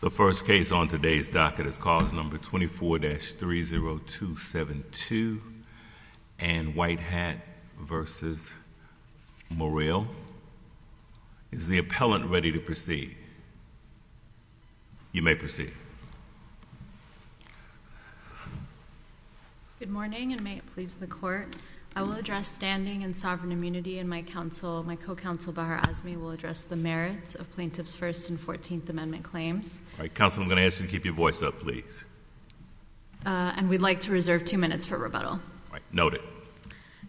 The first case on today's docket is cause number 24-30272 and White Hat v. Murrill Is the appellant ready to proceed? You may proceed. Good morning and may it please the court, I will address standing and sovereign immunity and my counsel, my co-counsel Bahar Azmi will address the merits of plaintiff's First and Fourteenth Amendment claims. All right, counsel, I'm going to ask you to keep your voice up, please. And we'd like to reserve two minutes for rebuttal. All right, noted.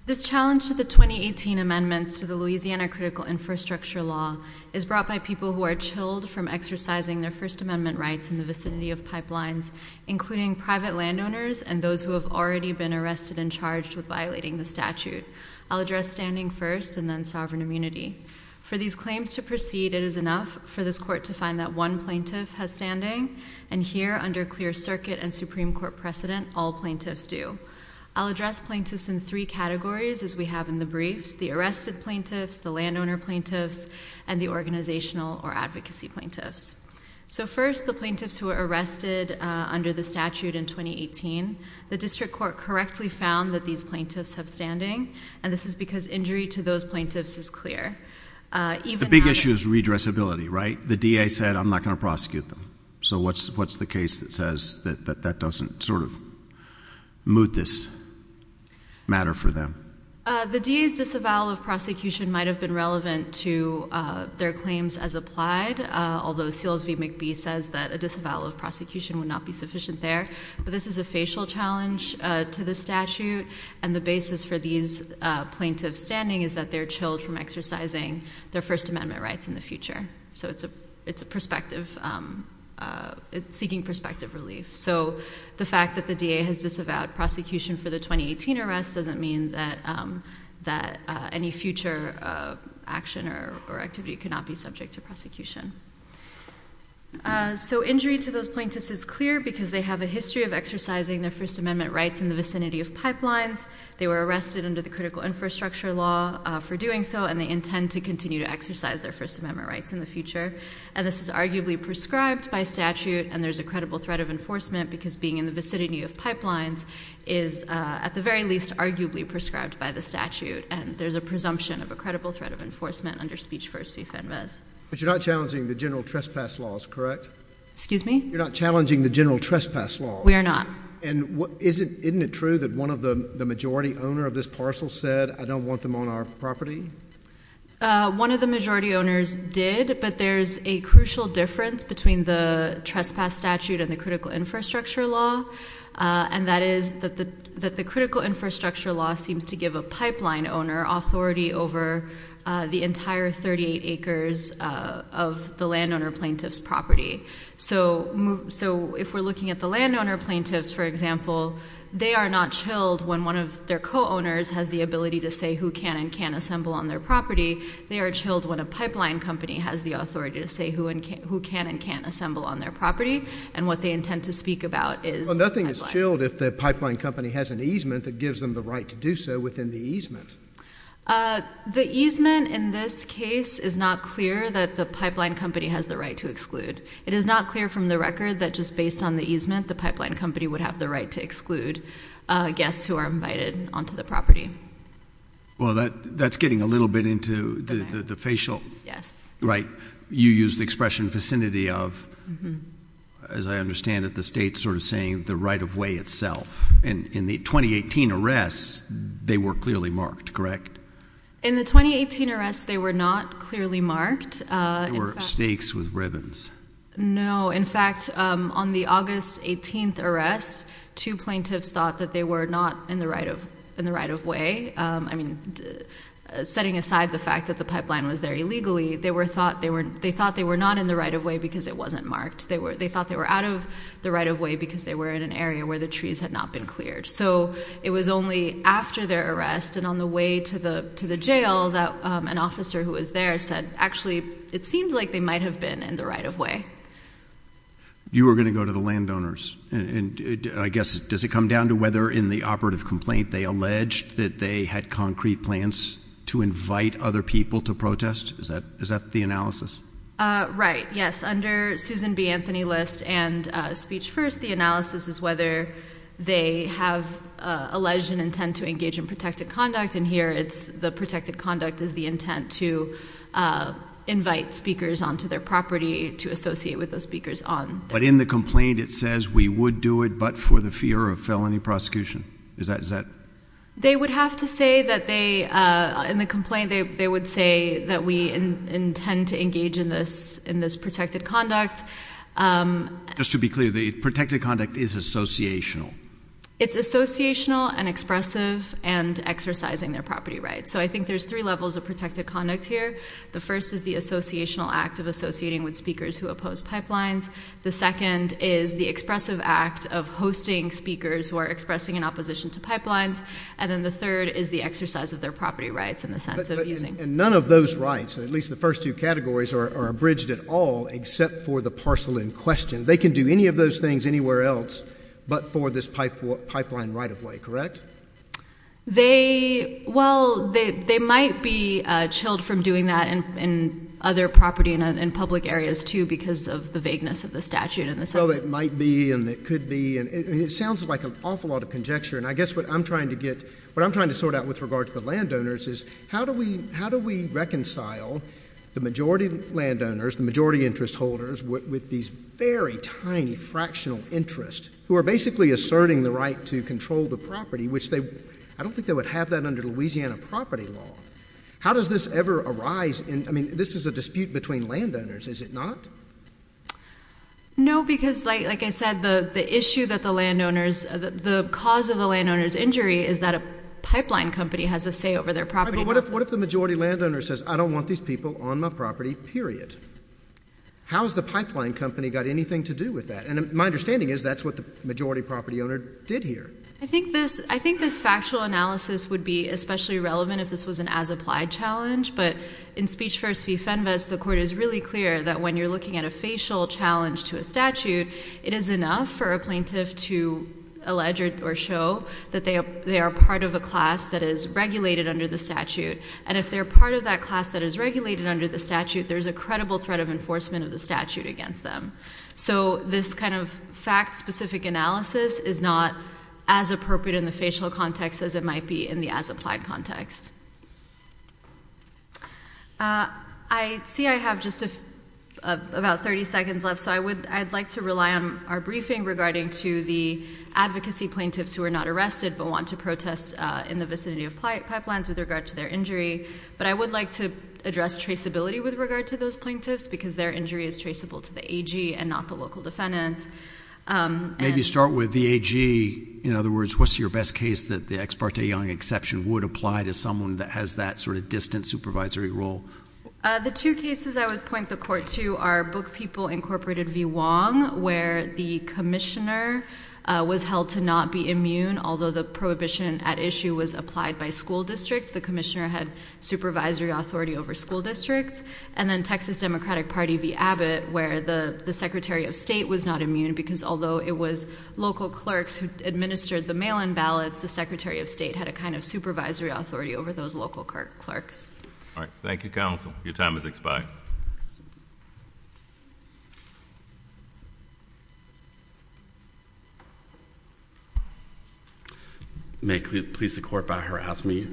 This challenge to the 2018 amendments to the Louisiana critical infrastructure law is brought by people who are chilled from exercising their First Amendment rights in the vicinity of pipelines, including private landowners and those who have already been arrested and charged with violating the statute. I'll address standing first and then sovereign immunity. For these claims to proceed, it is enough for this court to find that one plaintiff has standing and here under clear circuit and Supreme Court precedent, all plaintiffs do. I'll address plaintiffs in three categories as we have in the briefs, the arrested plaintiffs, the landowner plaintiffs, and the organizational or advocacy plaintiffs. So first, the plaintiffs who were arrested under the statute in 2018, the district court correctly found that these plaintiffs have standing and this is because injury to those plaintiffs is clear. Even... The big issue is redressability, right? The DA said, I'm not going to prosecute them. So what's the case that says that that doesn't sort of move this matter for them? The DA's disavowal of prosecution might have been relevant to their claims as applied, although Seals v. McBee says that a disavowal of prosecution would not be sufficient there. But this is a facial challenge to the statute and the basis for these plaintiffs' standing is that they're chilled from exercising their First Amendment rights in the future. So it's a perspective, it's seeking perspective relief. So the fact that the DA has disavowed prosecution for the 2018 arrest doesn't mean that any future action or activity cannot be subject to prosecution. So injury to those plaintiffs is clear because they have a history of exercising their First Amendment rights in the vicinity of pipelines. They were arrested under the Critical Infrastructure Law for doing so, and they intend to continue to exercise their First Amendment rights in the future. And this is arguably prescribed by statute, and there's a credible threat of enforcement because being in the vicinity of pipelines is, at the very least, arguably prescribed by the statute, and there's a presumption of a credible threat of enforcement under Speech First v. Fenves. But you're not challenging the general trespass laws, correct? Excuse me? You're not challenging the general trespass laws? We are not. And isn't it true that one of the majority owner of this parcel said, I don't want them on our property? One of the majority owners did, but there's a crucial difference between the trespass statute and the Critical Infrastructure Law. And that is that the Critical Infrastructure Law seems to give a pipeline owner authority over the entire 38 acres of the landowner plaintiff's property. So if we're looking at the landowner plaintiffs, for example, they are not chilled when one of their co-owners has the ability to say who can and can't assemble on their property. They are chilled when a pipeline company has the authority to say who can and can't assemble on their property, and what they intend to speak about is the pipeline. Well, nothing is chilled if the pipeline company has an easement that gives them the right to do so within the easement. The easement in this case is not clear that the pipeline company has the right to exclude. It is not clear from the record that just based on the easement, the pipeline company would have the right to exclude guests who are invited onto the property. Well, that's getting a little bit into the facial. Yes. Right. You used the expression vicinity of. As I understand it, the state's sort of saying the right of way itself. In the 2018 arrests, they were clearly marked, correct? In the 2018 arrests, they were not clearly marked. They were stakes with ribbons. No, in fact, on the August 18th arrest, two plaintiffs thought that they were not in the right of way. I mean, setting aside the fact that the pipeline was there illegally, they thought they were not in the right of way because it wasn't marked. They thought they were out of the right of way because they were in an area where the trees had not been cleared. So it was only after their arrest and on the way to the jail that an officer who was there said actually, it seems like they might have been in the right of way. You were going to go to the landowners, and I guess, does it come down to whether in the operative complaint they alleged that they had concrete plants to invite other people to protest? Is that the analysis? Right. Yes. So, yes, under Susan B. Anthony List and Speech First, the analysis is whether they have alleged an intent to engage in protected conduct, and here, the protected conduct is the intent to invite speakers onto their property to associate with the speakers on. But in the complaint, it says, we would do it but for the fear of felony prosecution. Is that? They would have to say that they, in the complaint, they would say that we intend to engage in this protected conduct. Just to be clear, the protected conduct is associational? It's associational and expressive and exercising their property rights. So I think there's three levels of protected conduct here. The first is the associational act of associating with speakers who oppose pipelines. The second is the expressive act of hosting speakers who are expressing an opposition to pipelines. And then the third is the exercise of their property rights in the sense of using. And none of those rights, at least the first two categories, are abridged at all except for the parcel in question. They can do any of those things anywhere else but for this pipeline right-of-way, correct? They, well, they might be chilled from doing that in other property and public areas, too, because of the vagueness of the statute and the statute. Well, it might be and it could be and it sounds like an awful lot of conjecture and I guess what I'm trying to get, what I'm trying to sort out with regard to the landowners is how do we reconcile the majority landowners, the majority interest holders with these very tiny fractional interests who are basically asserting the right to control the property which they, I don't think they would have that under Louisiana property law. How does this ever arise in, I mean, this is a dispute between landowners, is it not? No, because like I said, the issue that the landowners, the cause of the landowner's injury is that a pipeline company has a say over their property. But what if the majority landowner says, I don't want these people on my property, period? How has the pipeline company got anything to do with that? And my understanding is that's what the majority property owner did here. I think this factual analysis would be especially relevant if this was an as-applied challenge but in Speech First v. Fenves, the court is really clear that when you're looking at a facial challenge to a statute, it is enough for a plaintiff to allege or show that they are part of a class that is regulated under the statute. And if they're part of that class that is regulated under the statute, there's a credible threat of enforcement of the statute against them. So this kind of fact-specific analysis is not as appropriate in the facial context as it might be in the as-applied context. I see I have just about 30 seconds left, so I'd like to rely on our briefing regarding to the advocacy plaintiffs who are not arrested but want to protest in the vicinity of pipelines with regard to their injury. But I would like to address traceability with regard to those plaintiffs because their injury is traceable to the AG and not the local defendants. Maybe start with the AG. In other words, what's your best case that the Ex parte Young exception would apply to someone that has that sort of distant supervisory role? The two cases I would point the court to are Book People, Inc. v. Wong, where the commissioner was held to not be immune, although the prohibition at issue was applied by school districts. The commissioner had supervisory authority over school districts. And then Texas Democratic Party v. Abbott, where the secretary of state was not immune because although it was local clerks who administered the mail-in ballots, the secretary of state had a kind of supervisory authority over those local clerks. All right. Thank you, counsel. Your time has expired. May it please the Court, if I may,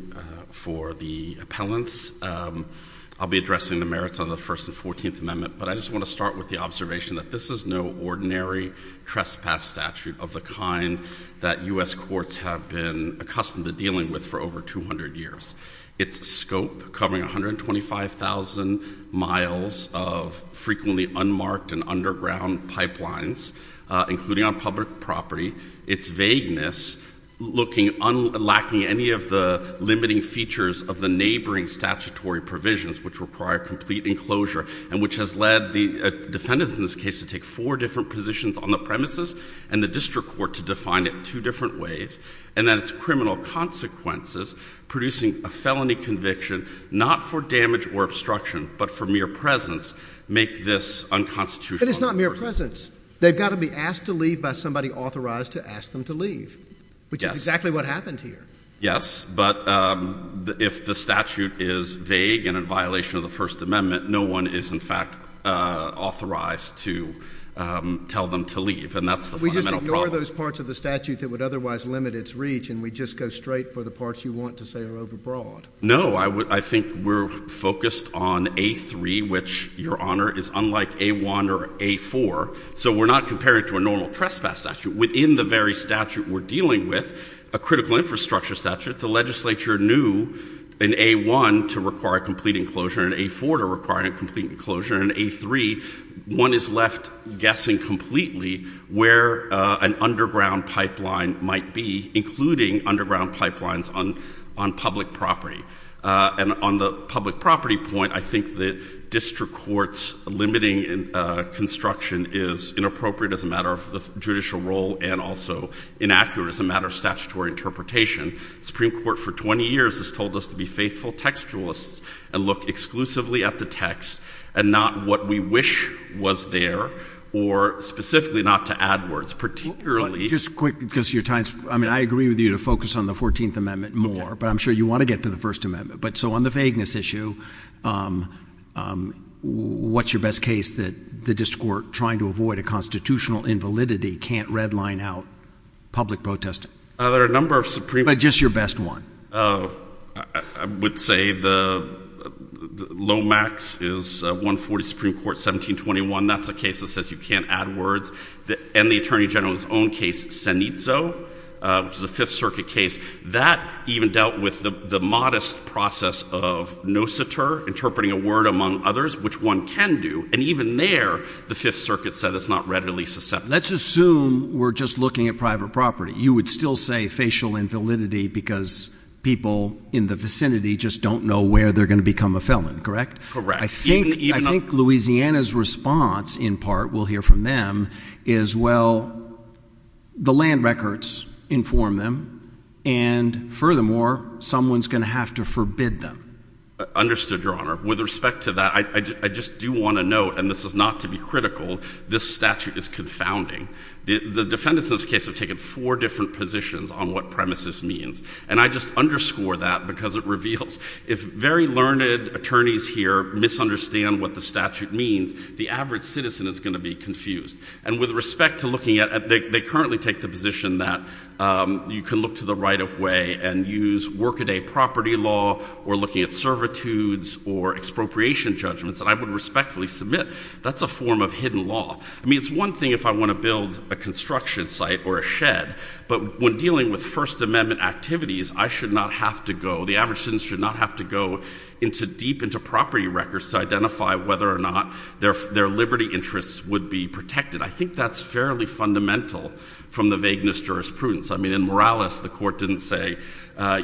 for the appellants, I'll be addressing the merits of the First and Fourteenth Amendment, but I just want to start with the observation that this is no ordinary trespass statute of the kind that U.S. courts have been accustomed to dealing with for over 200 years. Its scope covering 125,000 miles of frequently unmarked and underground pipelines, including on public property, its vagueness lacking any of the limiting features of the neighboring statutory provisions, which require complete enclosure and which has led the defendants in this case to take four different positions on the premises and the district court to define it two different ways, and that its criminal consequences, producing a felony conviction not for damage or obstruction, but for mere presence, make this unconstitutional. But it's not mere presence. They've got to be asked to leave by somebody authorized to ask them to leave, which is exactly what happened here. Yes. But if the statute is vague and in violation of the First Amendment, no one is, in fact, authorized to tell them to leave, and that's the fundamental problem. We just ignore those parts of the statute that would otherwise limit its reach and we just go straight for the parts you want to say are overbroad? No. I think we're focused on A3, which, Your Honor, is unlike A1 or A4. So we're not comparing it to a normal trespass statute. Within the very statute we're dealing with, a critical infrastructure statute, the legislature knew in A1 to require a complete enclosure and in A4 to require a complete enclosure. In A3, one is left guessing completely where an underground pipeline might be, including underground pipelines on public property. And on the public property point, I think the district court's limiting construction is inappropriate as a matter of the judicial role and also inaccurate as a matter of statutory interpretation. The Supreme Court for 20 years has told us to be faithful textualists and look exclusively at the text and not what we wish was there, or specifically not to add words, particularly— Just quickly, because your time's—I mean, I agree with you to focus on the Fourteenth Amendment more, but I'm sure you want to get to the First Amendment. But so on the vagueness issue, what's your best case that the district court, trying to avoid a constitutional invalidity, can't redline out public protesting? There are a number of Supreme— But just your best one. I would say the low max is 140 Supreme Court, 1721. That's a case that says you can't add words. And the Attorney General's own case, Senezzo, which is a Fifth Circuit case, that even dealt with the modest process of no citer, interpreting a word among others, which one can do. And even there, the Fifth Circuit said it's not readily susceptible. Let's assume we're just looking at private property. You would still say facial invalidity because people in the vicinity just don't know where they're going to become a felon, correct? Correct. I think Louisiana's response, in part, we'll hear from them, is, well, the land records inform them, and furthermore, someone's going to have to forbid them. Understood, Your Honor. With respect to that, I just do want to note, and this is not to be critical, this statute is confounding. The defendants in this case have taken four different positions on what premises means. And I just underscore that because it reveals if very learned attorneys here misunderstand what the statute means, the average citizen is going to be confused. And with respect to looking at, they currently take the position that you can look to the right of way and use workaday property law or looking at servitudes or expropriation judgments that I would respectfully submit. That's a form of hidden law. I mean, it's one thing if I want to build a construction site or a shed, but when dealing with First Amendment activities, I should not have to go, the average citizen should not have to go deep into property records to identify whether or not their liberty interests would be protected. I think that's fairly fundamental from the vagueness jurisprudence. I mean, in Morales, the court didn't say,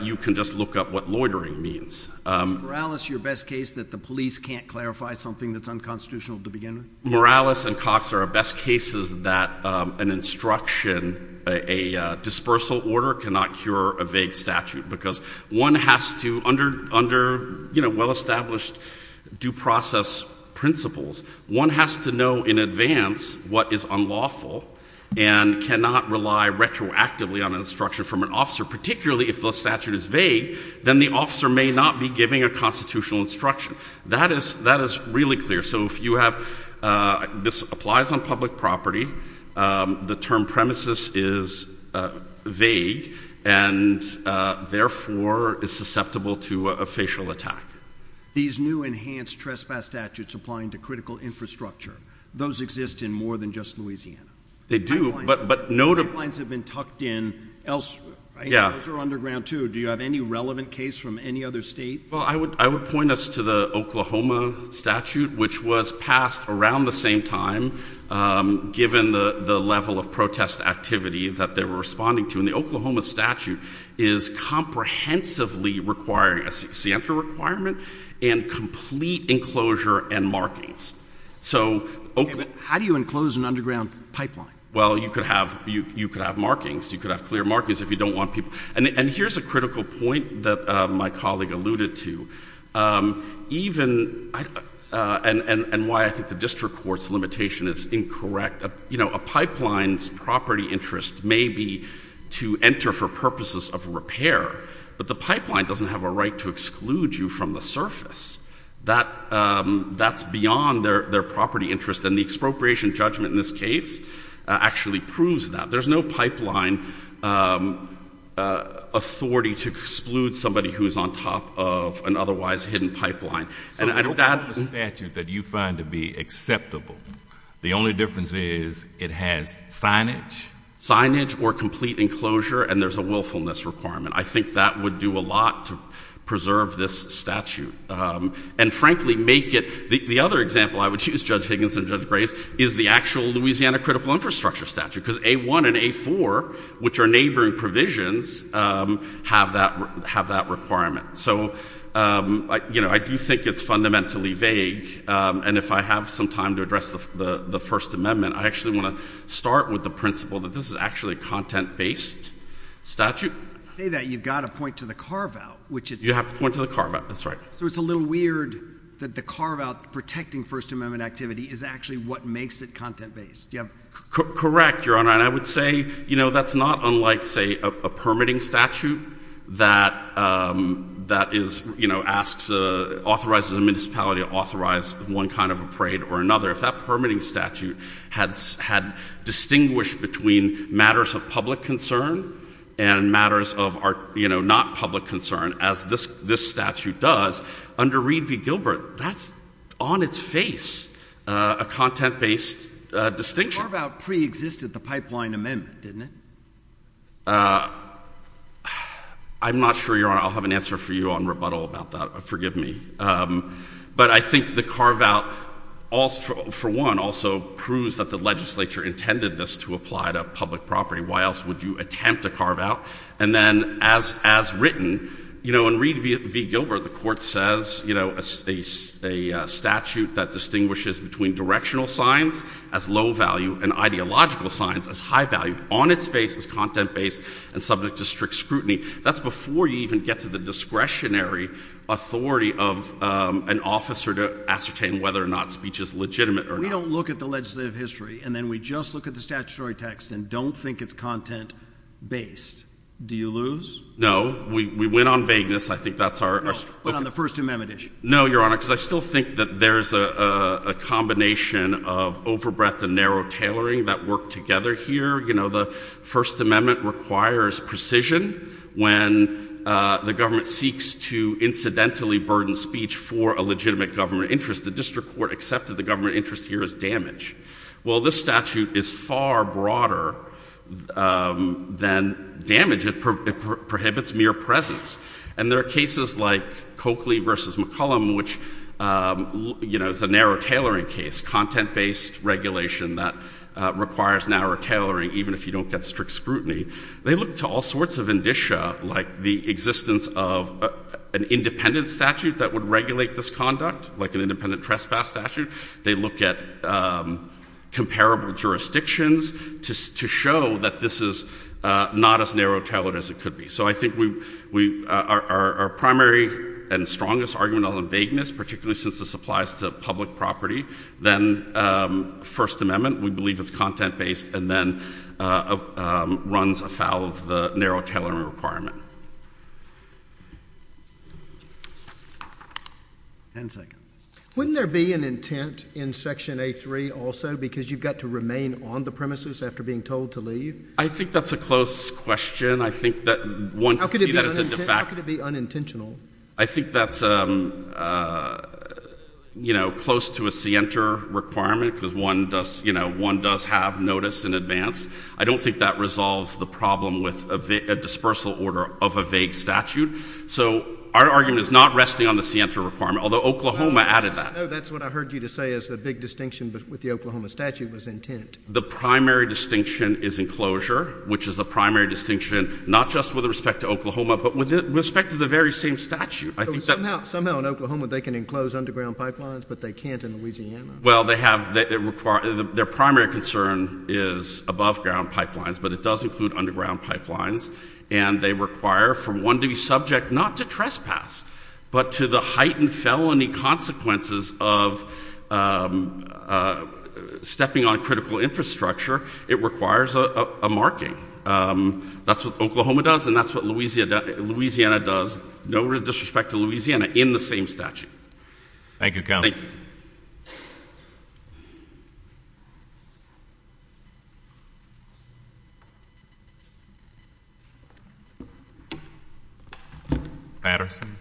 you can just look up what loitering means. Is Morales your best case that the police can't clarify something that's unconstitutional to begin with? Morales and Cox are our best cases that an instruction, a dispersal order cannot cure a vague statute because one has to, under well-established due process principles, one has to know in advance what is unlawful and cannot rely retroactively on instruction from an officer, particularly if the statute is vague, then the officer may not be giving a constitutional instruction. That is really clear. So if you have, this applies on public property, the term premises is vague and therefore is susceptible to a facial attack. These new enhanced trespass statutes applying to critical infrastructure, those exist in more than just Louisiana. They do, but no- High lines have been tucked in elsewhere, right? Yeah. Those are underground too. Do you have any relevant case from any other state? Well, I would point us to the Oklahoma statute, which was passed around the same time, given the level of protest activity that they were responding to. And the Oklahoma statute is comprehensively requiring a scienter requirement and complete enclosure and markings. So- How do you enclose an underground pipeline? Well, you could have markings, you could have clear markings if you don't want people, and here's a critical point that my colleague alluded to. Even, and why I think the district court's limitation is incorrect, you know, a pipeline's property interest may be to enter for purposes of repair, but the pipeline doesn't have a right to exclude you from the surface. That's beyond their property interest, and the expropriation judgment in this case actually proves that. There's no pipeline authority to exclude somebody who is on top of an otherwise hidden pipeline. So you don't have a statute that you find to be acceptable. The only difference is it has signage- Signage or complete enclosure, and there's a willfulness requirement. I think that would do a lot to preserve this statute, and frankly make it, the other example I would use, Judge Higgins and Judge Graves, is the actual Louisiana critical infrastructure statute, because A1 and A4, which are neighboring provisions, have that requirement. So, you know, I do think it's fundamentally vague, and if I have some time to address the First Amendment, I actually want to start with the principle that this is actually a content-based statute. You say that, you've got to point to the carve-out, which is- You have to point to the carve-out, that's right. So it's a little weird that the carve-out protecting First Amendment activity is actually what makes it content-based. Do you have- Correct, Your Honor, and I would say, you know, that's not unlike, say, a permitting statute that is, you know, asks, authorizes a municipality to authorize one kind of a parade or another. If that permitting statute had distinguished between matters of public concern and matters of, you know, not public concern, as this statute does, under Reed v. Gilbert, that's on its face a content-based distinction. But the carve-out preexisted the Pipeline Amendment, didn't it? I'm not sure, Your Honor. I'll have an answer for you on rebuttal about that, but forgive me. But I think the carve-out, for one, also proves that the legislature intended this to apply to public property. Why else would you attempt a carve-out? And then, as written, you know, in Reed v. Gilbert, the Court says, you know, a statute that distinguishes between directional signs as low-value and ideological signs as high-value on its face as content-based and subject to strict scrutiny, that's before you even get to the discretionary authority of an officer to ascertain whether or not speech is legitimate or not. We don't look at the legislative history, and then we just look at the statutory text and don't think it's content-based. Do you lose? No. We win on vagueness. I think that's our- No, but on the First Amendment issue. No, Your Honor, because I still think that there's a combination of overbreadth and narrow tailoring that work together here. You know, the First Amendment requires precision when the government seeks to incidentally burden speech for a legitimate government interest. The district court accepted the government interest here as damage. Well, this statute is far broader than damage. It prohibits mere presence. And there are cases like Coakley v. McCollum, which is a narrow tailoring case, content-based regulation that requires narrow tailoring, even if you don't get strict scrutiny. They look to all sorts of indicia, like the existence of an independent statute that would regulate this conduct, like an independent trespass statute. They look at comparable jurisdictions to show that this is not as narrow-tailored as it could be. So, I think our primary and strongest argument on the vagueness, particularly since this applies to public property, then First Amendment, we believe it's content-based and then runs afoul of the narrow tailoring requirement. Ten seconds. Wouldn't there be an intent in Section A3 also because you've got to remain on the premises after being told to leave? I think that's a close question. How could it be unintentional? I think that's close to a scienter requirement because one does have notice in advance. I don't think that resolves the problem with a dispersal order of a vague statute. So our argument is not resting on the scienter requirement, although Oklahoma added that. That's what I heard you say is the big distinction with the Oklahoma statute was intent. The primary distinction is enclosure, which is a primary distinction not just with respect to Oklahoma, but with respect to the very same statute. Somehow in Oklahoma they can enclose underground pipelines, but they can't in Louisiana. Well, their primary concern is above-ground pipelines, but it does include underground pipelines, and they require for one to be subject not to trespass, but to the heightened infrastructure, it requires a marking. That's what Oklahoma does, and that's what Louisiana does, no disrespect to Louisiana, in the same statute. Thank you, Counsel. Thank you. Patterson. Thank you.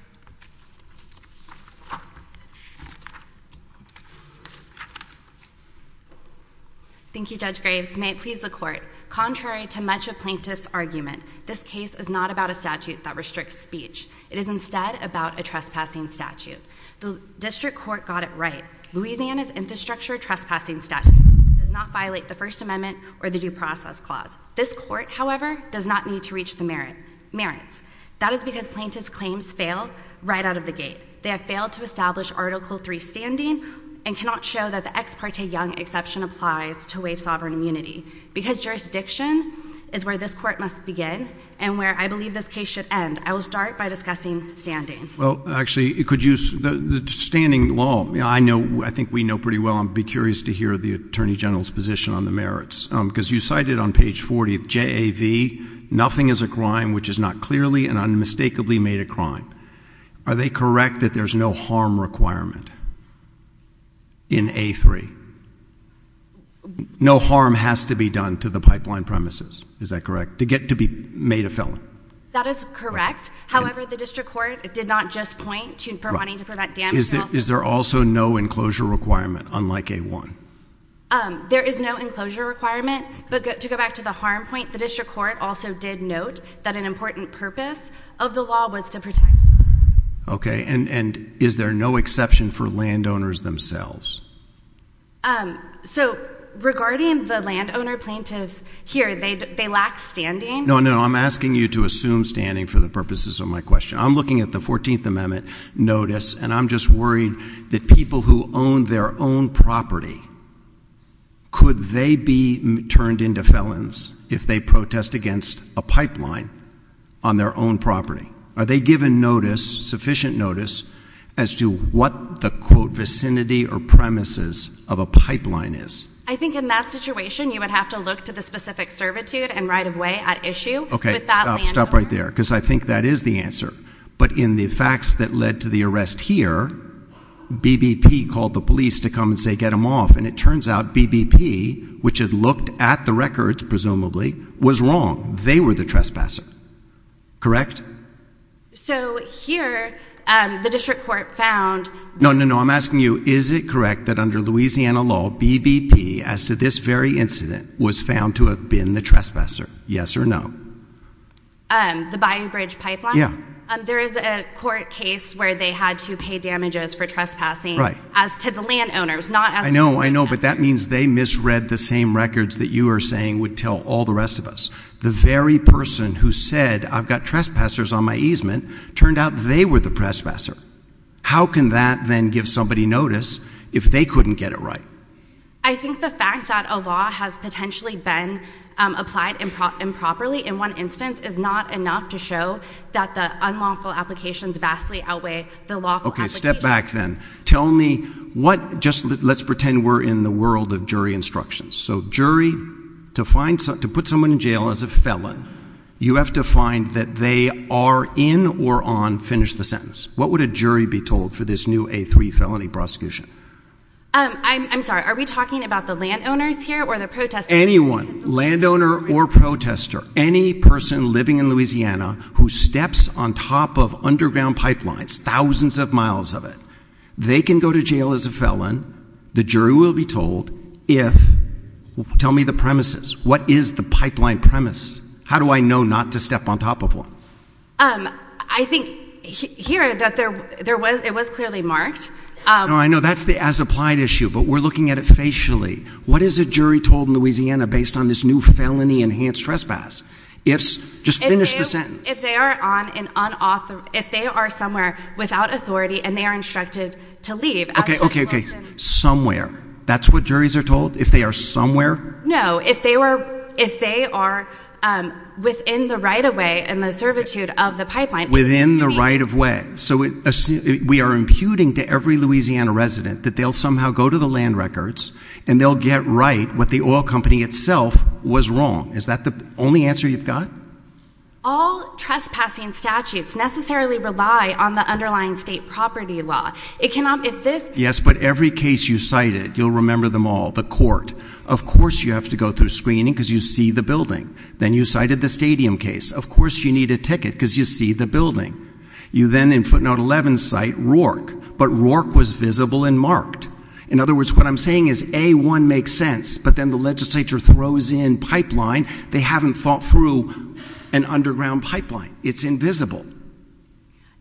Thank you, Judge Graves. May it please the Court. Contrary to much of Plaintiff's argument, this case is not about a statute that restricts It is instead about a trespassing statute. The District Court got it right. Louisiana's infrastructure trespassing statute does not violate the First Amendment or the Due Process Clause. This Court, however, does not need to reach the merits. That is because Plaintiff's claims fail right out of the gate. They have failed to establish Article III standing and cannot show that the ex parte young exception applies to waive sovereign immunity. Because jurisdiction is where this Court must begin and where I believe this case should end, I will start by discussing standing. Well, actually, could you, the standing law, I know, I think we know pretty well, I'd be curious to hear the Attorney General's position on the merits, because you cited on page 40, JAV, nothing is a crime which is not clearly and unmistakably made a crime. Are they correct that there's no harm requirement in A3? No harm has to be done to the pipeline premises, is that correct, to get to be made a felon? That is correct. However, the District Court did not just point to wanting to prevent damage. Is there also no enclosure requirement, unlike A1? There is no enclosure requirement, but to go back to the harm point, the District Court also did note that an important purpose of the law was to protect. Okay, and is there no exception for landowners themselves? So regarding the landowner plaintiffs here, they lack standing. No, no, I'm asking you to assume standing for the purposes of my question. I'm looking at the 14th Amendment notice and I'm just worried that people who own their own property, could they be turned into felons if they protest against a pipeline on their own property? Are they given notice, sufficient notice, as to what the, quote, vicinity or premises of a pipeline is? I think in that situation, you would have to look to the specific servitude and right of way at issue. Okay, stop, stop right there, because I think that is the answer. But in the facts that led to the arrest here, BBP called the police to come and say, get them off. And it turns out BBP, which had looked at the records, presumably, was wrong. They were the trespasser, correct? So here, the District Court found... No, no, no, I'm asking you, is it correct that under Louisiana law, BBP, as to this very incident, was found to have been the trespasser? Yes or no? The Bayou Bridge Pipeline? Yeah. There is a court case where they had to pay damages for trespassing as to the landowners, not as to the trespasser. I know, I know, but that means they misread the same records that you are saying would tell all the rest of us. The very person who said, I've got trespassers on my easement, turned out they were the trespasser. How can that then give somebody notice if they couldn't get it right? I think the fact that a law has potentially been applied improperly in one instance is not enough to show that the unlawful applications vastly outweigh the lawful applications. Okay, step back then. Tell me what, just let's pretend we're in the world of jury instructions. So jury, to put someone in jail as a felon, you have to find that they are in or on finish the sentence. What would a jury be told for this new A3 felony prosecution? I'm sorry, are we talking about the landowners here or the protesters? Anyone, landowner or protester, any person living in Louisiana who steps on top of underground pipelines, thousands of miles of it, they can go to jail as a felon. The jury will be told if, tell me the premises. What is the pipeline premise? How do I know not to step on top of one? I think here that there was, it was clearly marked. No, I know that's the as applied issue, but we're looking at it facially. What is a jury told in Louisiana based on this new felony enhanced trespass? Just finish the sentence. If they are on an unauthorized, if they are somewhere without authority and they are instructed to leave. Somewhere. That's what juries are told? If they are somewhere? No, if they were, if they are within the right of way and the servitude of the pipeline. Within the right of way. So we are imputing to every Louisiana resident that they'll somehow go to the land records and they'll get right what the oil company itself was wrong. Is that the only answer you've got? All trespassing statutes necessarily rely on the underlying state property law. It cannot, if this. Yes, but every case you cited, you'll remember them all. The court. Of course you have to go through screening because you see the building. Then you cited the stadium case. Of course you need a ticket because you see the building. You then in footnote 11 cite Rourke, but Rourke was visible and marked. In other words, what I'm saying is A1 makes sense, but then the legislature throws in pipeline. They haven't thought through an underground pipeline. It's invisible.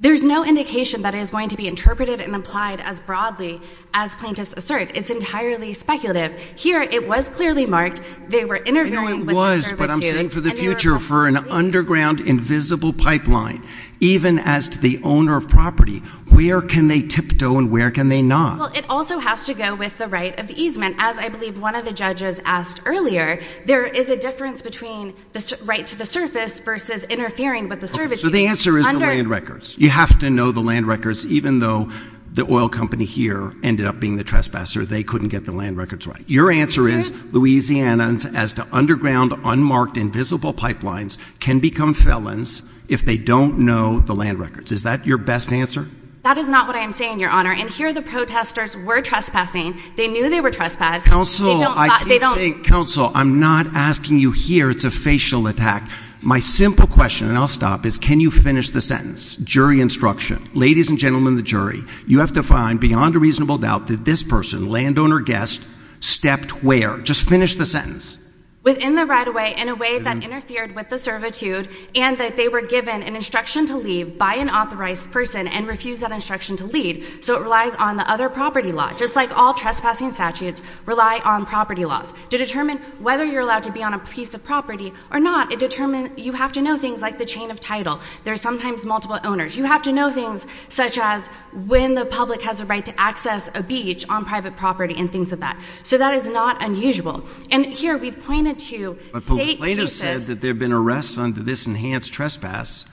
There's no indication that is going to be interpreted and applied as broadly as plaintiffs assert. It's entirely speculative. Here, it was clearly marked. They were interfering with the servitude. But I'm saying for the future, for an underground invisible pipeline, even as to the owner of property, where can they tiptoe and where can they not? Well, it also has to go with the right of the easement, as I believe one of the judges asked earlier. There is a difference between the right to the surface versus interfering with the servitude. The answer is the land records. You have to know the land records, even though the oil company here ended up being the trespasser. They couldn't get the land records right. Your answer is Louisiana, as to underground unmarked invisible pipelines, can become felons if they don't know the land records. Is that your best answer? That is not what I am saying, Your Honor. And here, the protesters were trespassing. They knew they were trespassing. Counsel, I keep saying, counsel, I'm not asking you here. It's a facial attack. My simple question, and I'll stop, is can you finish the sentence? Jury instruction. Ladies and gentlemen, the jury, you have to find beyond a reasonable doubt that this person, the landowner guest, stepped where? Just finish the sentence. Within the right of way, in a way that interfered with the servitude, and that they were given an instruction to leave by an authorized person and refused that instruction to leave. So it relies on the other property law. Just like all trespassing statutes rely on property laws. To determine whether you're allowed to be on a piece of property or not, it determines, you have to know things like the chain of title. There's sometimes multiple owners. You have to know things such as when the public has a right to access a beach on private property and things like that. So that is not unusual. And here, we've pointed to state cases. But the plaintiff says that there have been arrests under this enhanced trespass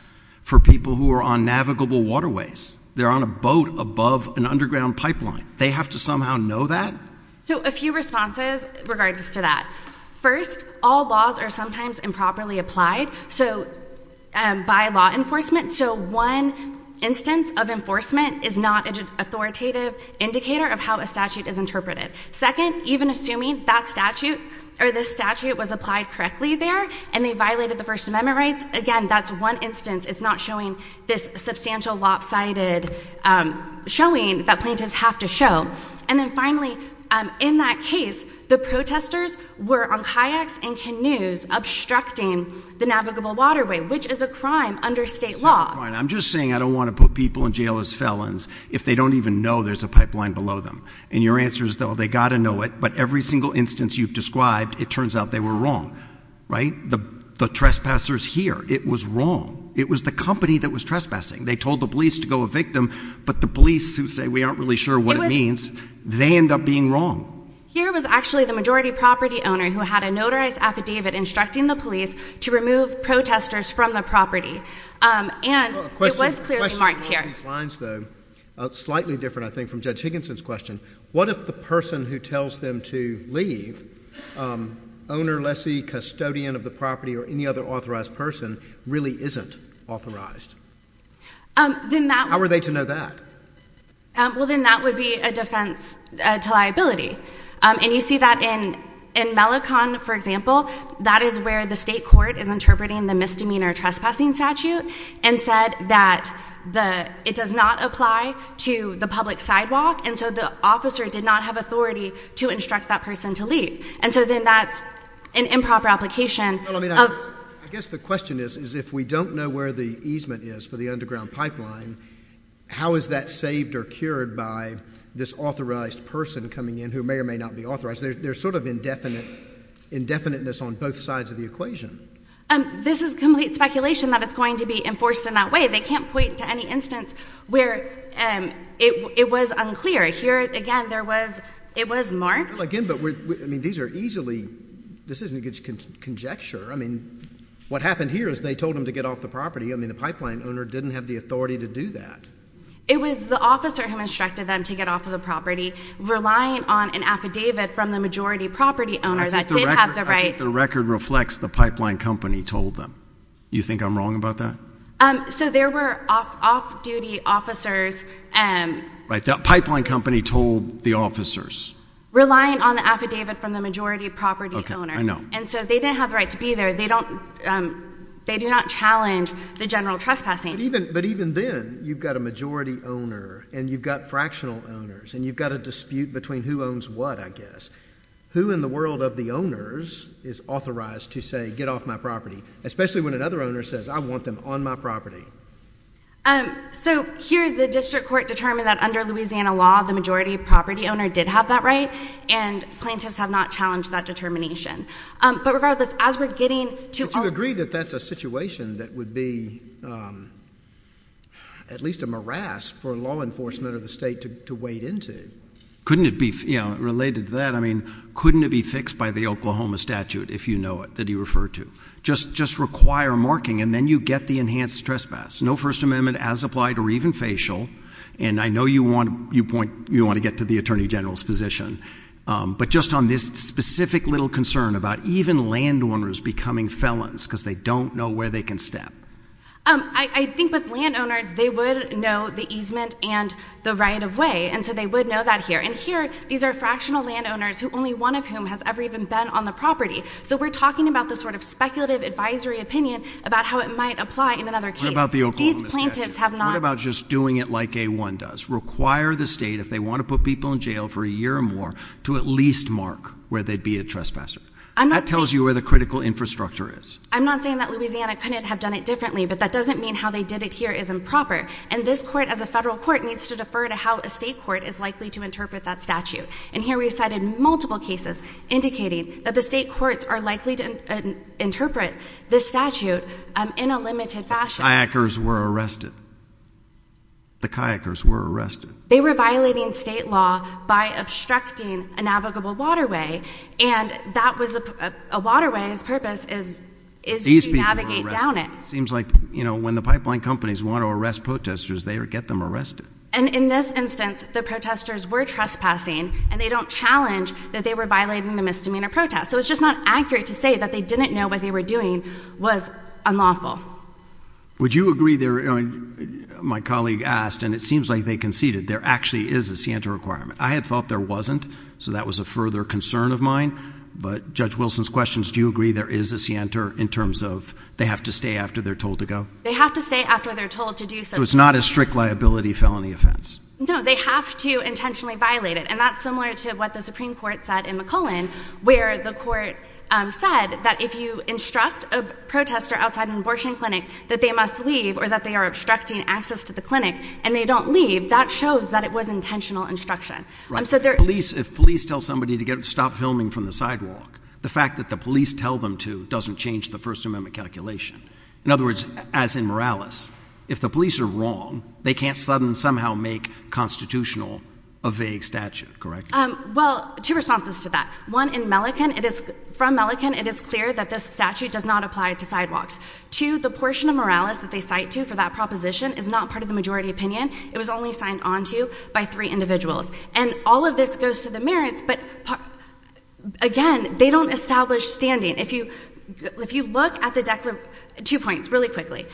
for people who are on navigable waterways. They're on a boat above an underground pipeline. They have to somehow know that? So a few responses regard to that. First, all laws are sometimes improperly applied by law enforcement. So one instance of enforcement is not an authoritative indicator of how a statute is interpreted. Second, even assuming that statute or this statute was applied correctly there and they violated the First Amendment rights, again, that's one instance. It's not showing this substantial lopsided showing that plaintiffs have to show. And then finally, in that case, the protesters were on kayaks and canoes obstructing the navigable waterway, which is a crime under state law. I'm just saying I don't want to put people in jail as felons if they don't even know there's a pipeline below them. And your answer is, though, they got to know it. But every single instance you've described, it turns out they were wrong, right? The trespassers here, it was wrong. It was the company that was trespassing. They told the police to go evict them. But the police who say we aren't really sure what it means, they end up being wrong. Here was actually the majority property owner who had a notarized affidavit instructing the police to remove protesters from the property. And it was clearly marked here. Well, a question about these lines, though, slightly different, I think, from Judge Higginson's question. What if the person who tells them to leave, owner, lessee, custodian of the property, or any other authorized person, really isn't authorized? How are they to know that? Well, then that would be a defense to liability. And you see that in Mellicombe, for example. That is where the state court is interpreting the misdemeanor trespassing statute and said that it does not apply to the public sidewalk. And so the officer did not have authority to instruct that person to leave. And so then that's an improper application of— I guess the question is, if we don't know where the easement is for the underground who may or may not be authorized, there's sort of indefinite—indefiniteness on both sides of the equation. This is complete speculation that it's going to be enforced in that way. They can't point to any instance where it was unclear. Here, again, there was—it was marked. Well, again, but we're—I mean, these are easily—this isn't a good conjecture. I mean, what happened here is they told them to get off the property. I mean, the pipeline owner didn't have the authority to do that. It was the officer who instructed them to get off of the property, relying on an affidavit from the majority property owner that did have the right— I think the record—I think the record reflects the pipeline company told them. You think I'm wrong about that? So there were off-duty officers— Right. The pipeline company told the officers. Relying on the affidavit from the majority property owner. I know. And so they didn't have the right to be there. They don't—they do not challenge the general trespassing. But even then, you've got a majority owner, and you've got fractional owners, and you've got a dispute between who owns what, I guess. Who in the world of the owners is authorized to say, get off my property, especially when another owner says, I want them on my property? So here, the district court determined that under Louisiana law, the majority property owner did have that right, and plaintiffs have not challenged that determination. But regardless, as we're getting to— I agree that that's a situation that would be at least a morass for law enforcement or the state to wade into. Couldn't it be—related to that, I mean, couldn't it be fixed by the Oklahoma statute, if you know it, that he referred to? Just require marking, and then you get the enhanced trespass. No First Amendment as applied or even facial. And I know you want to get to the attorney general's position. But just on this specific little concern about even landowners becoming felons because they don't know where they can step. I think with landowners, they would know the easement and the right of way, and so they would know that here. And here, these are fractional landowners, who only one of whom has ever even been on the property. So we're talking about the sort of speculative advisory opinion about how it might apply in another case. What about the Oklahoma statute? These plaintiffs have not— What about just doing it like A-1 does? Plaintiffs require the state, if they want to put people in jail for a year or more, to at least mark where they'd be a trespasser. That tells you where the critical infrastructure is. I'm not saying that Louisiana couldn't have done it differently, but that doesn't mean how they did it here is improper. And this court, as a federal court, needs to defer to how a state court is likely to interpret that statute. And here we've cited multiple cases indicating that the state courts are likely to interpret this statute in a limited fashion. Kayakers were arrested. The kayakers were arrested. They were violating state law by obstructing a navigable waterway. And that was a waterway's purpose is to navigate down it. Seems like, you know, when the pipeline companies want to arrest protesters, they get them arrested. And in this instance, the protesters were trespassing, and they don't challenge that they were violating the misdemeanor protest. So it's just not accurate to say that they didn't know what they were doing was unlawful. Would you agree there, my colleague asked, and it seems like they conceded, there actually is a scienter requirement. I had thought there wasn't. So that was a further concern of mine. But Judge Wilson's questions, do you agree there is a scienter in terms of they have to stay after they're told to go? They have to stay after they're told to do so. It's not a strict liability felony offense. No, they have to intentionally violate it. And that's similar to what the Supreme Court said in McClellan, where the court said that if you instruct a protester outside an abortion clinic that they must leave or that they are obstructing access to the clinic and they don't leave, that shows that it was intentional instruction. If police tell somebody to stop filming from the sidewalk, the fact that the police tell them to doesn't change the First Amendment calculation. In other words, as in Morales, if the police are wrong, they can't suddenly somehow make constitutional a vague statute, correct? Well, two responses to that. One, in Mellican, it is from Mellican, it is clear that this statute does not apply to sidewalks. Two, the portion of Morales that they cite to for that proposition is not part of the majority opinion. It was only signed onto by three individuals. And all of this goes to the merits, but again, they don't establish standing. If you look at the two points really quickly.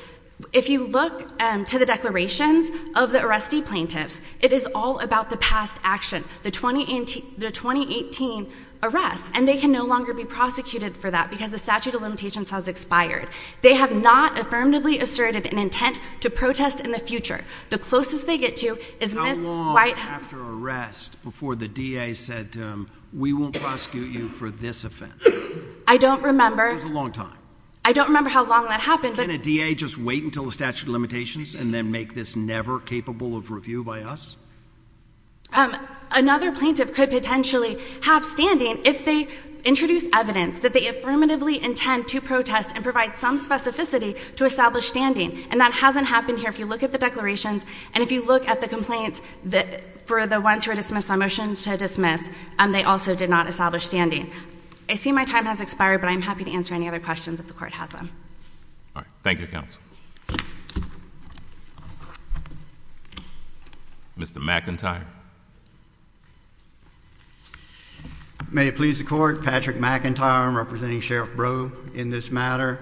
If you look to the declarations of the arrestee plaintiffs, it is all about the past action. The 2018 arrest, and they can no longer be prosecuted for that because the statute of limitations has expired. They have not affirmatively asserted an intent to protest in the future. The closest they get to is Ms. Whitehouse. How long after arrest before the DA said, we won't prosecute you for this offense? I don't remember. It was a long time. I don't remember how long that happened. Can a DA just wait until the statute of limitations and then make this never capable of review by us? Another plaintiff could potentially have standing if they introduce evidence that they affirmatively intend to protest and provide some specificity to establish standing. And that hasn't happened here. If you look at the declarations and if you look at the complaints for the ones who were dismissed on motion to dismiss, they also did not establish standing. I see my time has expired, but I'm happy to answer any other questions if the court has them. All right. Thank you, counsel. Mr. McIntyre. May it please the court. Patrick McIntyre. I'm representing Sheriff Brough in this matter.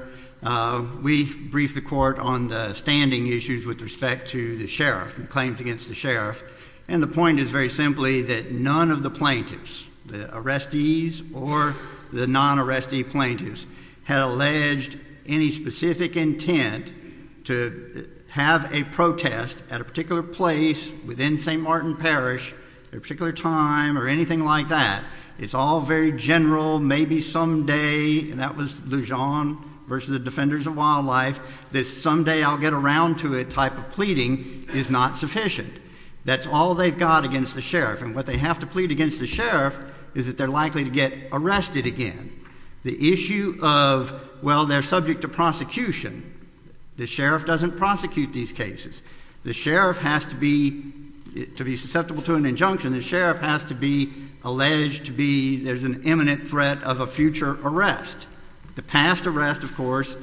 We briefed the court on the standing issues with respect to the sheriff and claims against the sheriff. And the point is very simply that none of the plaintiffs, the arrestees or the non-arrestee plaintiffs, had alleged any specific intent to have a protest at a particular place within St. Martin Parish at a particular time or anything like that. It's all very general. Maybe someday, and that was Lujan versus the Defenders of Wildlife, this someday I'll get around to it type of pleading is not sufficient. That's all they've got against the sheriff. And what they have to plead against the sheriff is that they're likely to get arrested again. The issue of, well, they're subject to prosecution. The sheriff doesn't prosecute these cases. The sheriff has to be, to be susceptible to an injunction, the sheriff has to be alleged to be, there's an imminent threat of a future arrest. The past arrest, of course,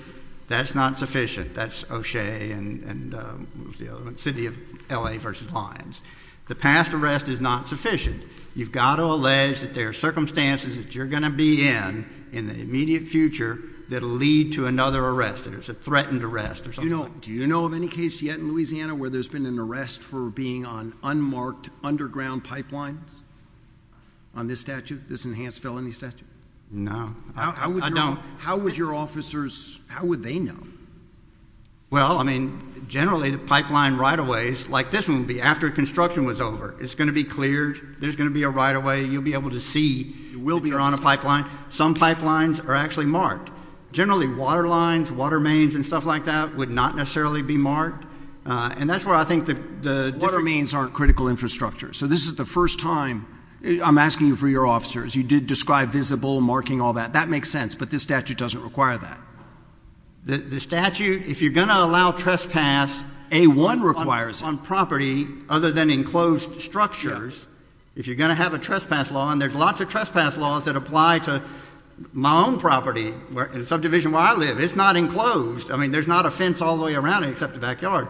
that's not sufficient. That's O'Shea and what was the other one, City of L.A. versus Lyons. The past arrest is not sufficient. You've got to allege that there are circumstances that you're going to be in in the immediate future that'll lead to another arrest, that it's a threatened arrest or something like Do you know of any case yet in Louisiana where there's been an arrest for being on unmarked underground pipelines on this statute, this enhanced felony statute? No. I don't. How would your officers, how would they know? Well, I mean, generally the pipeline right-of-ways, like this one would be after construction was over. It's going to be cleared. There's going to be a right-of-way. You'll be able to see, you will be on a pipeline. Some pipelines are actually marked. Generally water lines, water mains and stuff like that would not necessarily be marked. And that's where I think the water mains aren't critical infrastructure. So this is the first time, I'm asking you for your officers, you did describe visible marking all that. That makes sense. But this statute doesn't require that. The statute, if you're going to allow trespass, A-1 requires it. On property other than enclosed structures, if you're going to have a trespass law, and there's lots of trespass laws that apply to my own property, the subdivision where I live, it's not enclosed. I mean, there's not a fence all the way around it except the backyard.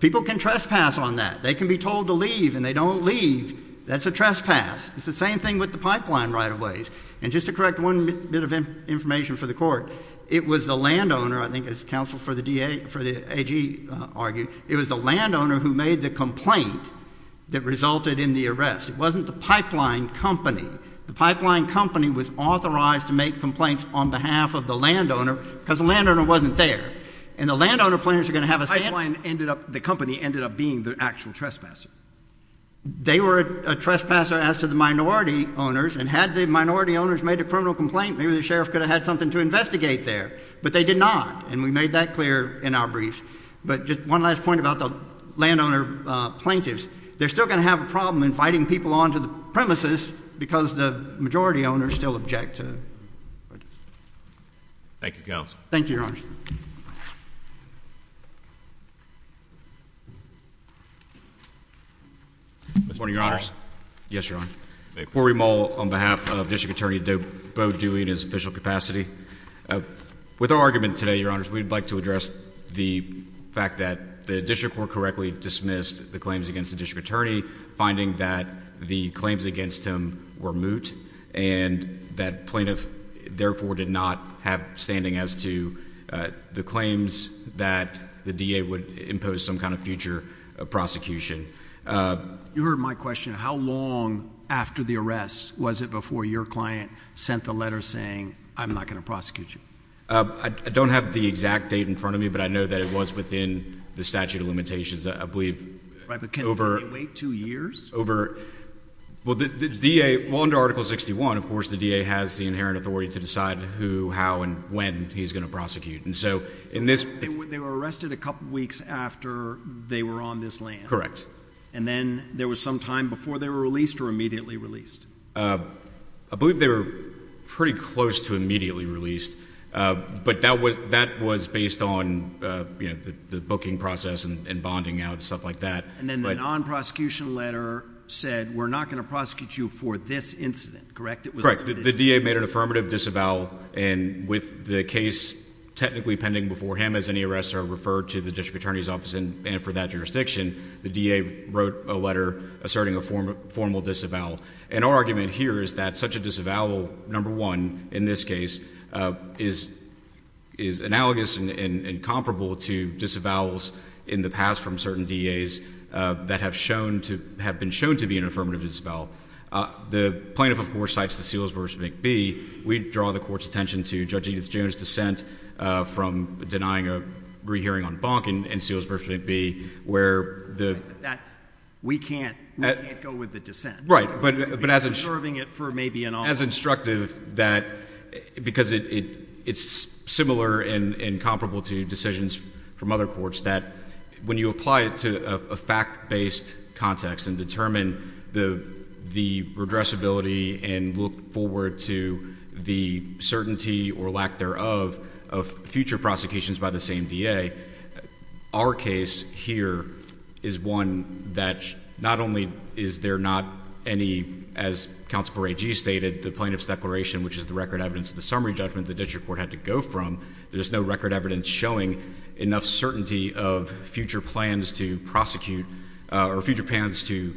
People can trespass on that. They can be told to leave and they don't leave. That's a trespass. It's the same thing with the pipeline right-of-ways. And just to correct one bit of information for the court, it was the landowner, I think as counsel for the AG argued, it was the landowner who made the complaint that resulted in the arrest. It wasn't the pipeline company. The pipeline company was authorized to make complaints on behalf of the landowner because the landowner wasn't there. And the landowner plans are going to have a stand- The pipeline ended up, the company ended up being the actual trespasser. They were a trespasser as to the minority owners, and had the minority owners made a criminal complaint, maybe the sheriff could have had something to investigate there. But they did not. And we made that clear in our brief. But just one last point about the landowner plaintiffs. They're still going to have a problem inviting people onto the premises because the majority owners still object to it. Thank you, counsel. Thank you, your honor. Mr. Moore. Yes, your honor. Thank you. Corey Moll on behalf of District Attorney Bo Dewey in his official capacity. With our argument today, your honors, we'd like to address the fact that the district court correctly dismissed the claims against the district attorney, finding that the claims against him were moot, and that plaintiff therefore did not have standing as to the claims that the DA would impose some kind of future prosecution. You heard my question. How long after the arrest was it before your client sent the letter saying, I'm not going to prosecute you? I don't have the exact date in front of me, but I know that it was within the statute of limitations, I believe. Right, but can they wait two years? Over, well, the DA, well, under Article 61, of course, the DA has the inherent authority to decide who, how, and when he's going to prosecute. So they were arrested a couple weeks after they were on this land? And then there was some time before they were released or immediately released? I believe they were pretty close to immediately released, but that was based on the booking process and bonding out and stuff like that. And then the non-prosecution letter said, we're not going to prosecute you for this incident, correct? Correct. The DA made an affirmative disavowal and with the case technically pending before him as any arrests are referred to the district attorney's office and for that jurisdiction, the DA wrote a letter asserting a formal disavowal. And our argument here is that such a disavowal, number one, in this case, is analogous and comparable to disavowals in the past from certain DAs that have been shown to be an affirmative disavowal. The plaintiff, of course, cites the Seals v. McBee. We draw the court's attention to Judge Edith June's dissent from denying a re-hearing on Bonk and Seals v. McBee where the- We can't go with the dissent. Right. But as- Preserving it for maybe an hour. As instructive that, because it's similar and comparable to decisions from other courts that when you apply it to a fact-based context and determine the redressability and look forward to the certainty or lack thereof of future prosecutions by the same DA, our case here is one that not only is there not any, as Counsel for AG stated, the plaintiff's declaration which is the record evidence of the summary judgment the district court had to go from, there's no record evidence showing enough certainty of future plans to prosecute or future plans to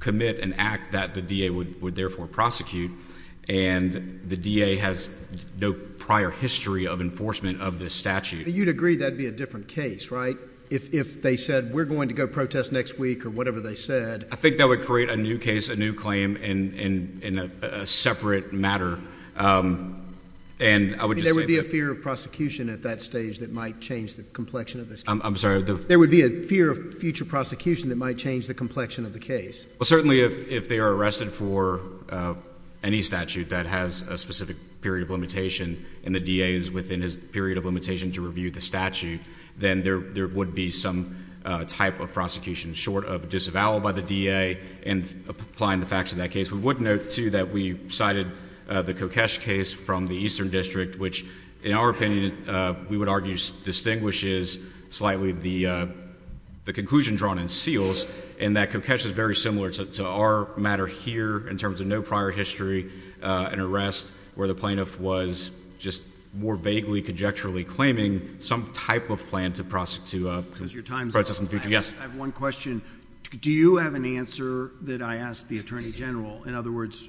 commit an act that the DA would therefore prosecute. And the DA has no prior history of enforcement of this statute. You'd agree that'd be a different case, right, if they said, we're going to go protest next week or whatever they said. I think that would create a new case, a new claim in a separate matter. There would be a fear of prosecution at that stage that might change the complexion of this case. I'm sorry. There would be a fear of future prosecution that might change the complexion of the case. Well, certainly if they are arrested for any statute that has a specific period of limitation and the DA is within his period of limitation to review the statute, then there would be some type of prosecution short of disavowal by the DA and applying the facts of that case. We would note, too, that we cited the Kokesh case from the Eastern District, which, in our opinion, we would argue distinguishes slightly the conclusion drawn in Seals in that Kokesh is very similar to our matter here in terms of no prior history and arrest where the plaintiff was just more vaguely, conjecturally claiming some type of plan to prosecute. Because your time's up. Yes. I have one question. Do you have an answer that I ask the Attorney General? In other words,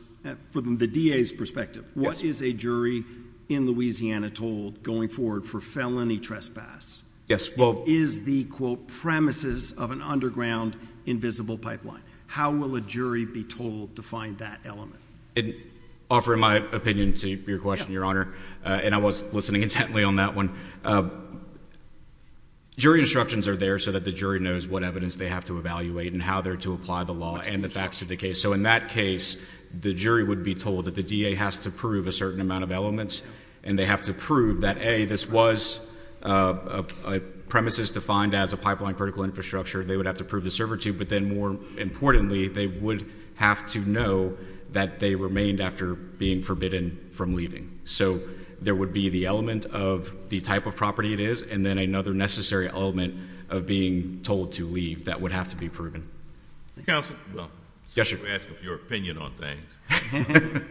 from the DA's perspective, what is a jury in Louisiana told going forward for felony trespass? Yes. Well, is the, quote, premises of an underground invisible pipeline? How will a jury be told to find that element? Offering my opinion to your question, Your Honor, and I was listening intently on that one, jury instructions are there so that the jury knows what evidence they have to evaluate and how they're to apply the law and the facts of the case. So in that case, the jury would be told that the DA has to prove a certain amount of elements and they have to prove that, A, this was a premises defined as a pipeline critical infrastructure. They would have to prove the server to, but then more importantly, they would have to know that they remained after being forbidden from leaving. So there would be the element of the type of property it is, and then another necessary element of being told to leave that would have to be proven. Counselor? Yes, sir. Let me ask for your opinion on things.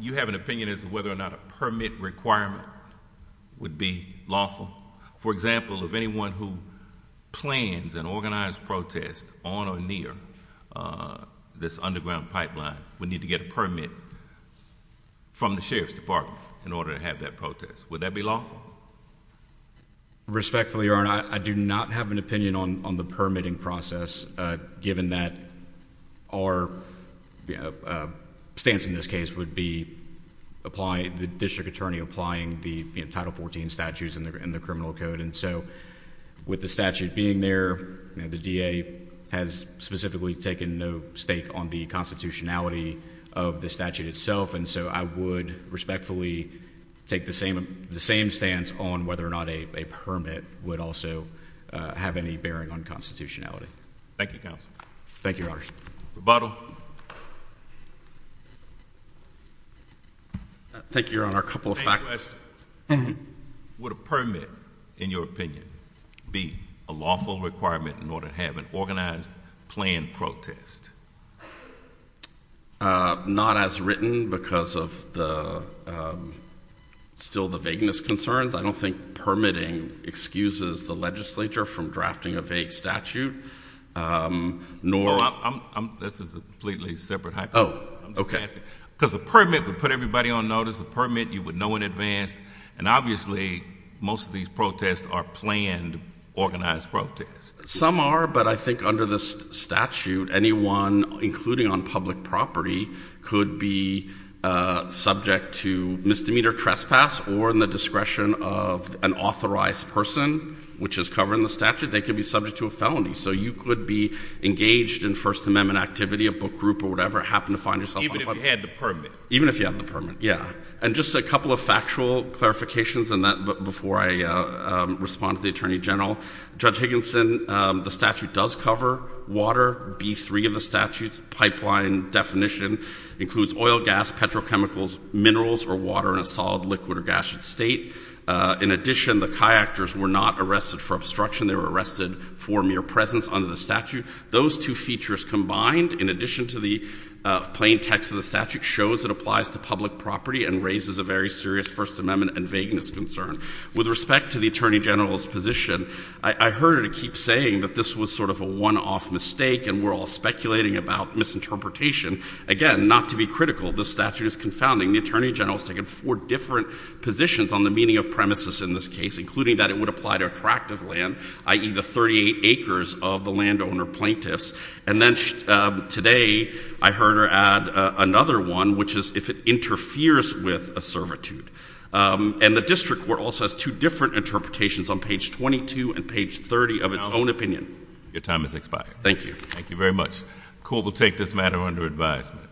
You have an opinion as to whether or not a permit requirement would be lawful. For example, if anyone who plans an organized protest on or near this underground pipeline would need to get a permit from the Sheriff's Department in order to have that protest, would that be lawful? Respectfully, Your Honor, I do not have an opinion on the permitting process, given that our stance in this case would be the district attorney applying the Title 14 statutes in the criminal code. And so, with the statute being there, the DA has specifically taken no stake on the constitutionality of the statute itself, and so I would respectfully take the same stance on whether or not a permit would also have any bearing on constitutionality. Thank you, Counselor. Thank you, Your Honor. Rebuttal? Thank you, Your Honor. A couple of facts. I have a question. Would a permit, in your opinion, be a lawful requirement in order to have an organized planned protest? Not as written because of the, still the vagueness concerns. I don't think permitting excuses the legislature from drafting a vague statute, nor... This is a completely separate hypothetical. Oh, okay. Because a permit would put everybody on notice, a permit you would know in advance, and obviously most of these protests are planned, organized protests. Some are, but I think under this statute, anyone, including on public property, could be subject to misdemeanor trespass or in the discretion of an authorized person, which is covered in the statute, they could be subject to a felony. So you could be engaged in First Amendment activity, a book group or whatever, happen to find yourself on the public... Even if you had the permit. Even if you have the permit, yeah. And just a couple of factual clarifications on that before I respond to the Attorney General. Judge Higginson, the statute does cover water, B3 of the statute's pipeline definition includes oil, gas, petrochemicals, minerals, or water in a solid, liquid, or gaseous state. In addition, the kayakers were not arrested for obstruction, they were arrested for mere presence under the statute. Those two features combined, in addition to the plain text of the statute, shows it applies to public property and raises a very serious First Amendment and vagueness concern. With respect to the Attorney General's position, I heard her keep saying that this was sort of a one-off mistake and we're all speculating about misinterpretation. Again, not to be critical, this statute is confounding. The Attorney General has taken four different positions on the meaning of premises in this case, including that it would apply to attractive land, i.e. the 38 acres of the landowner plaintiffs. And then today, I heard her add another one, which is if it interferes with a servitude. And the District Court also has two different interpretations on page 22 and page 30 of its own opinion. Your time has expired. Thank you. Thank you very much. The Court will take this matter under advisement.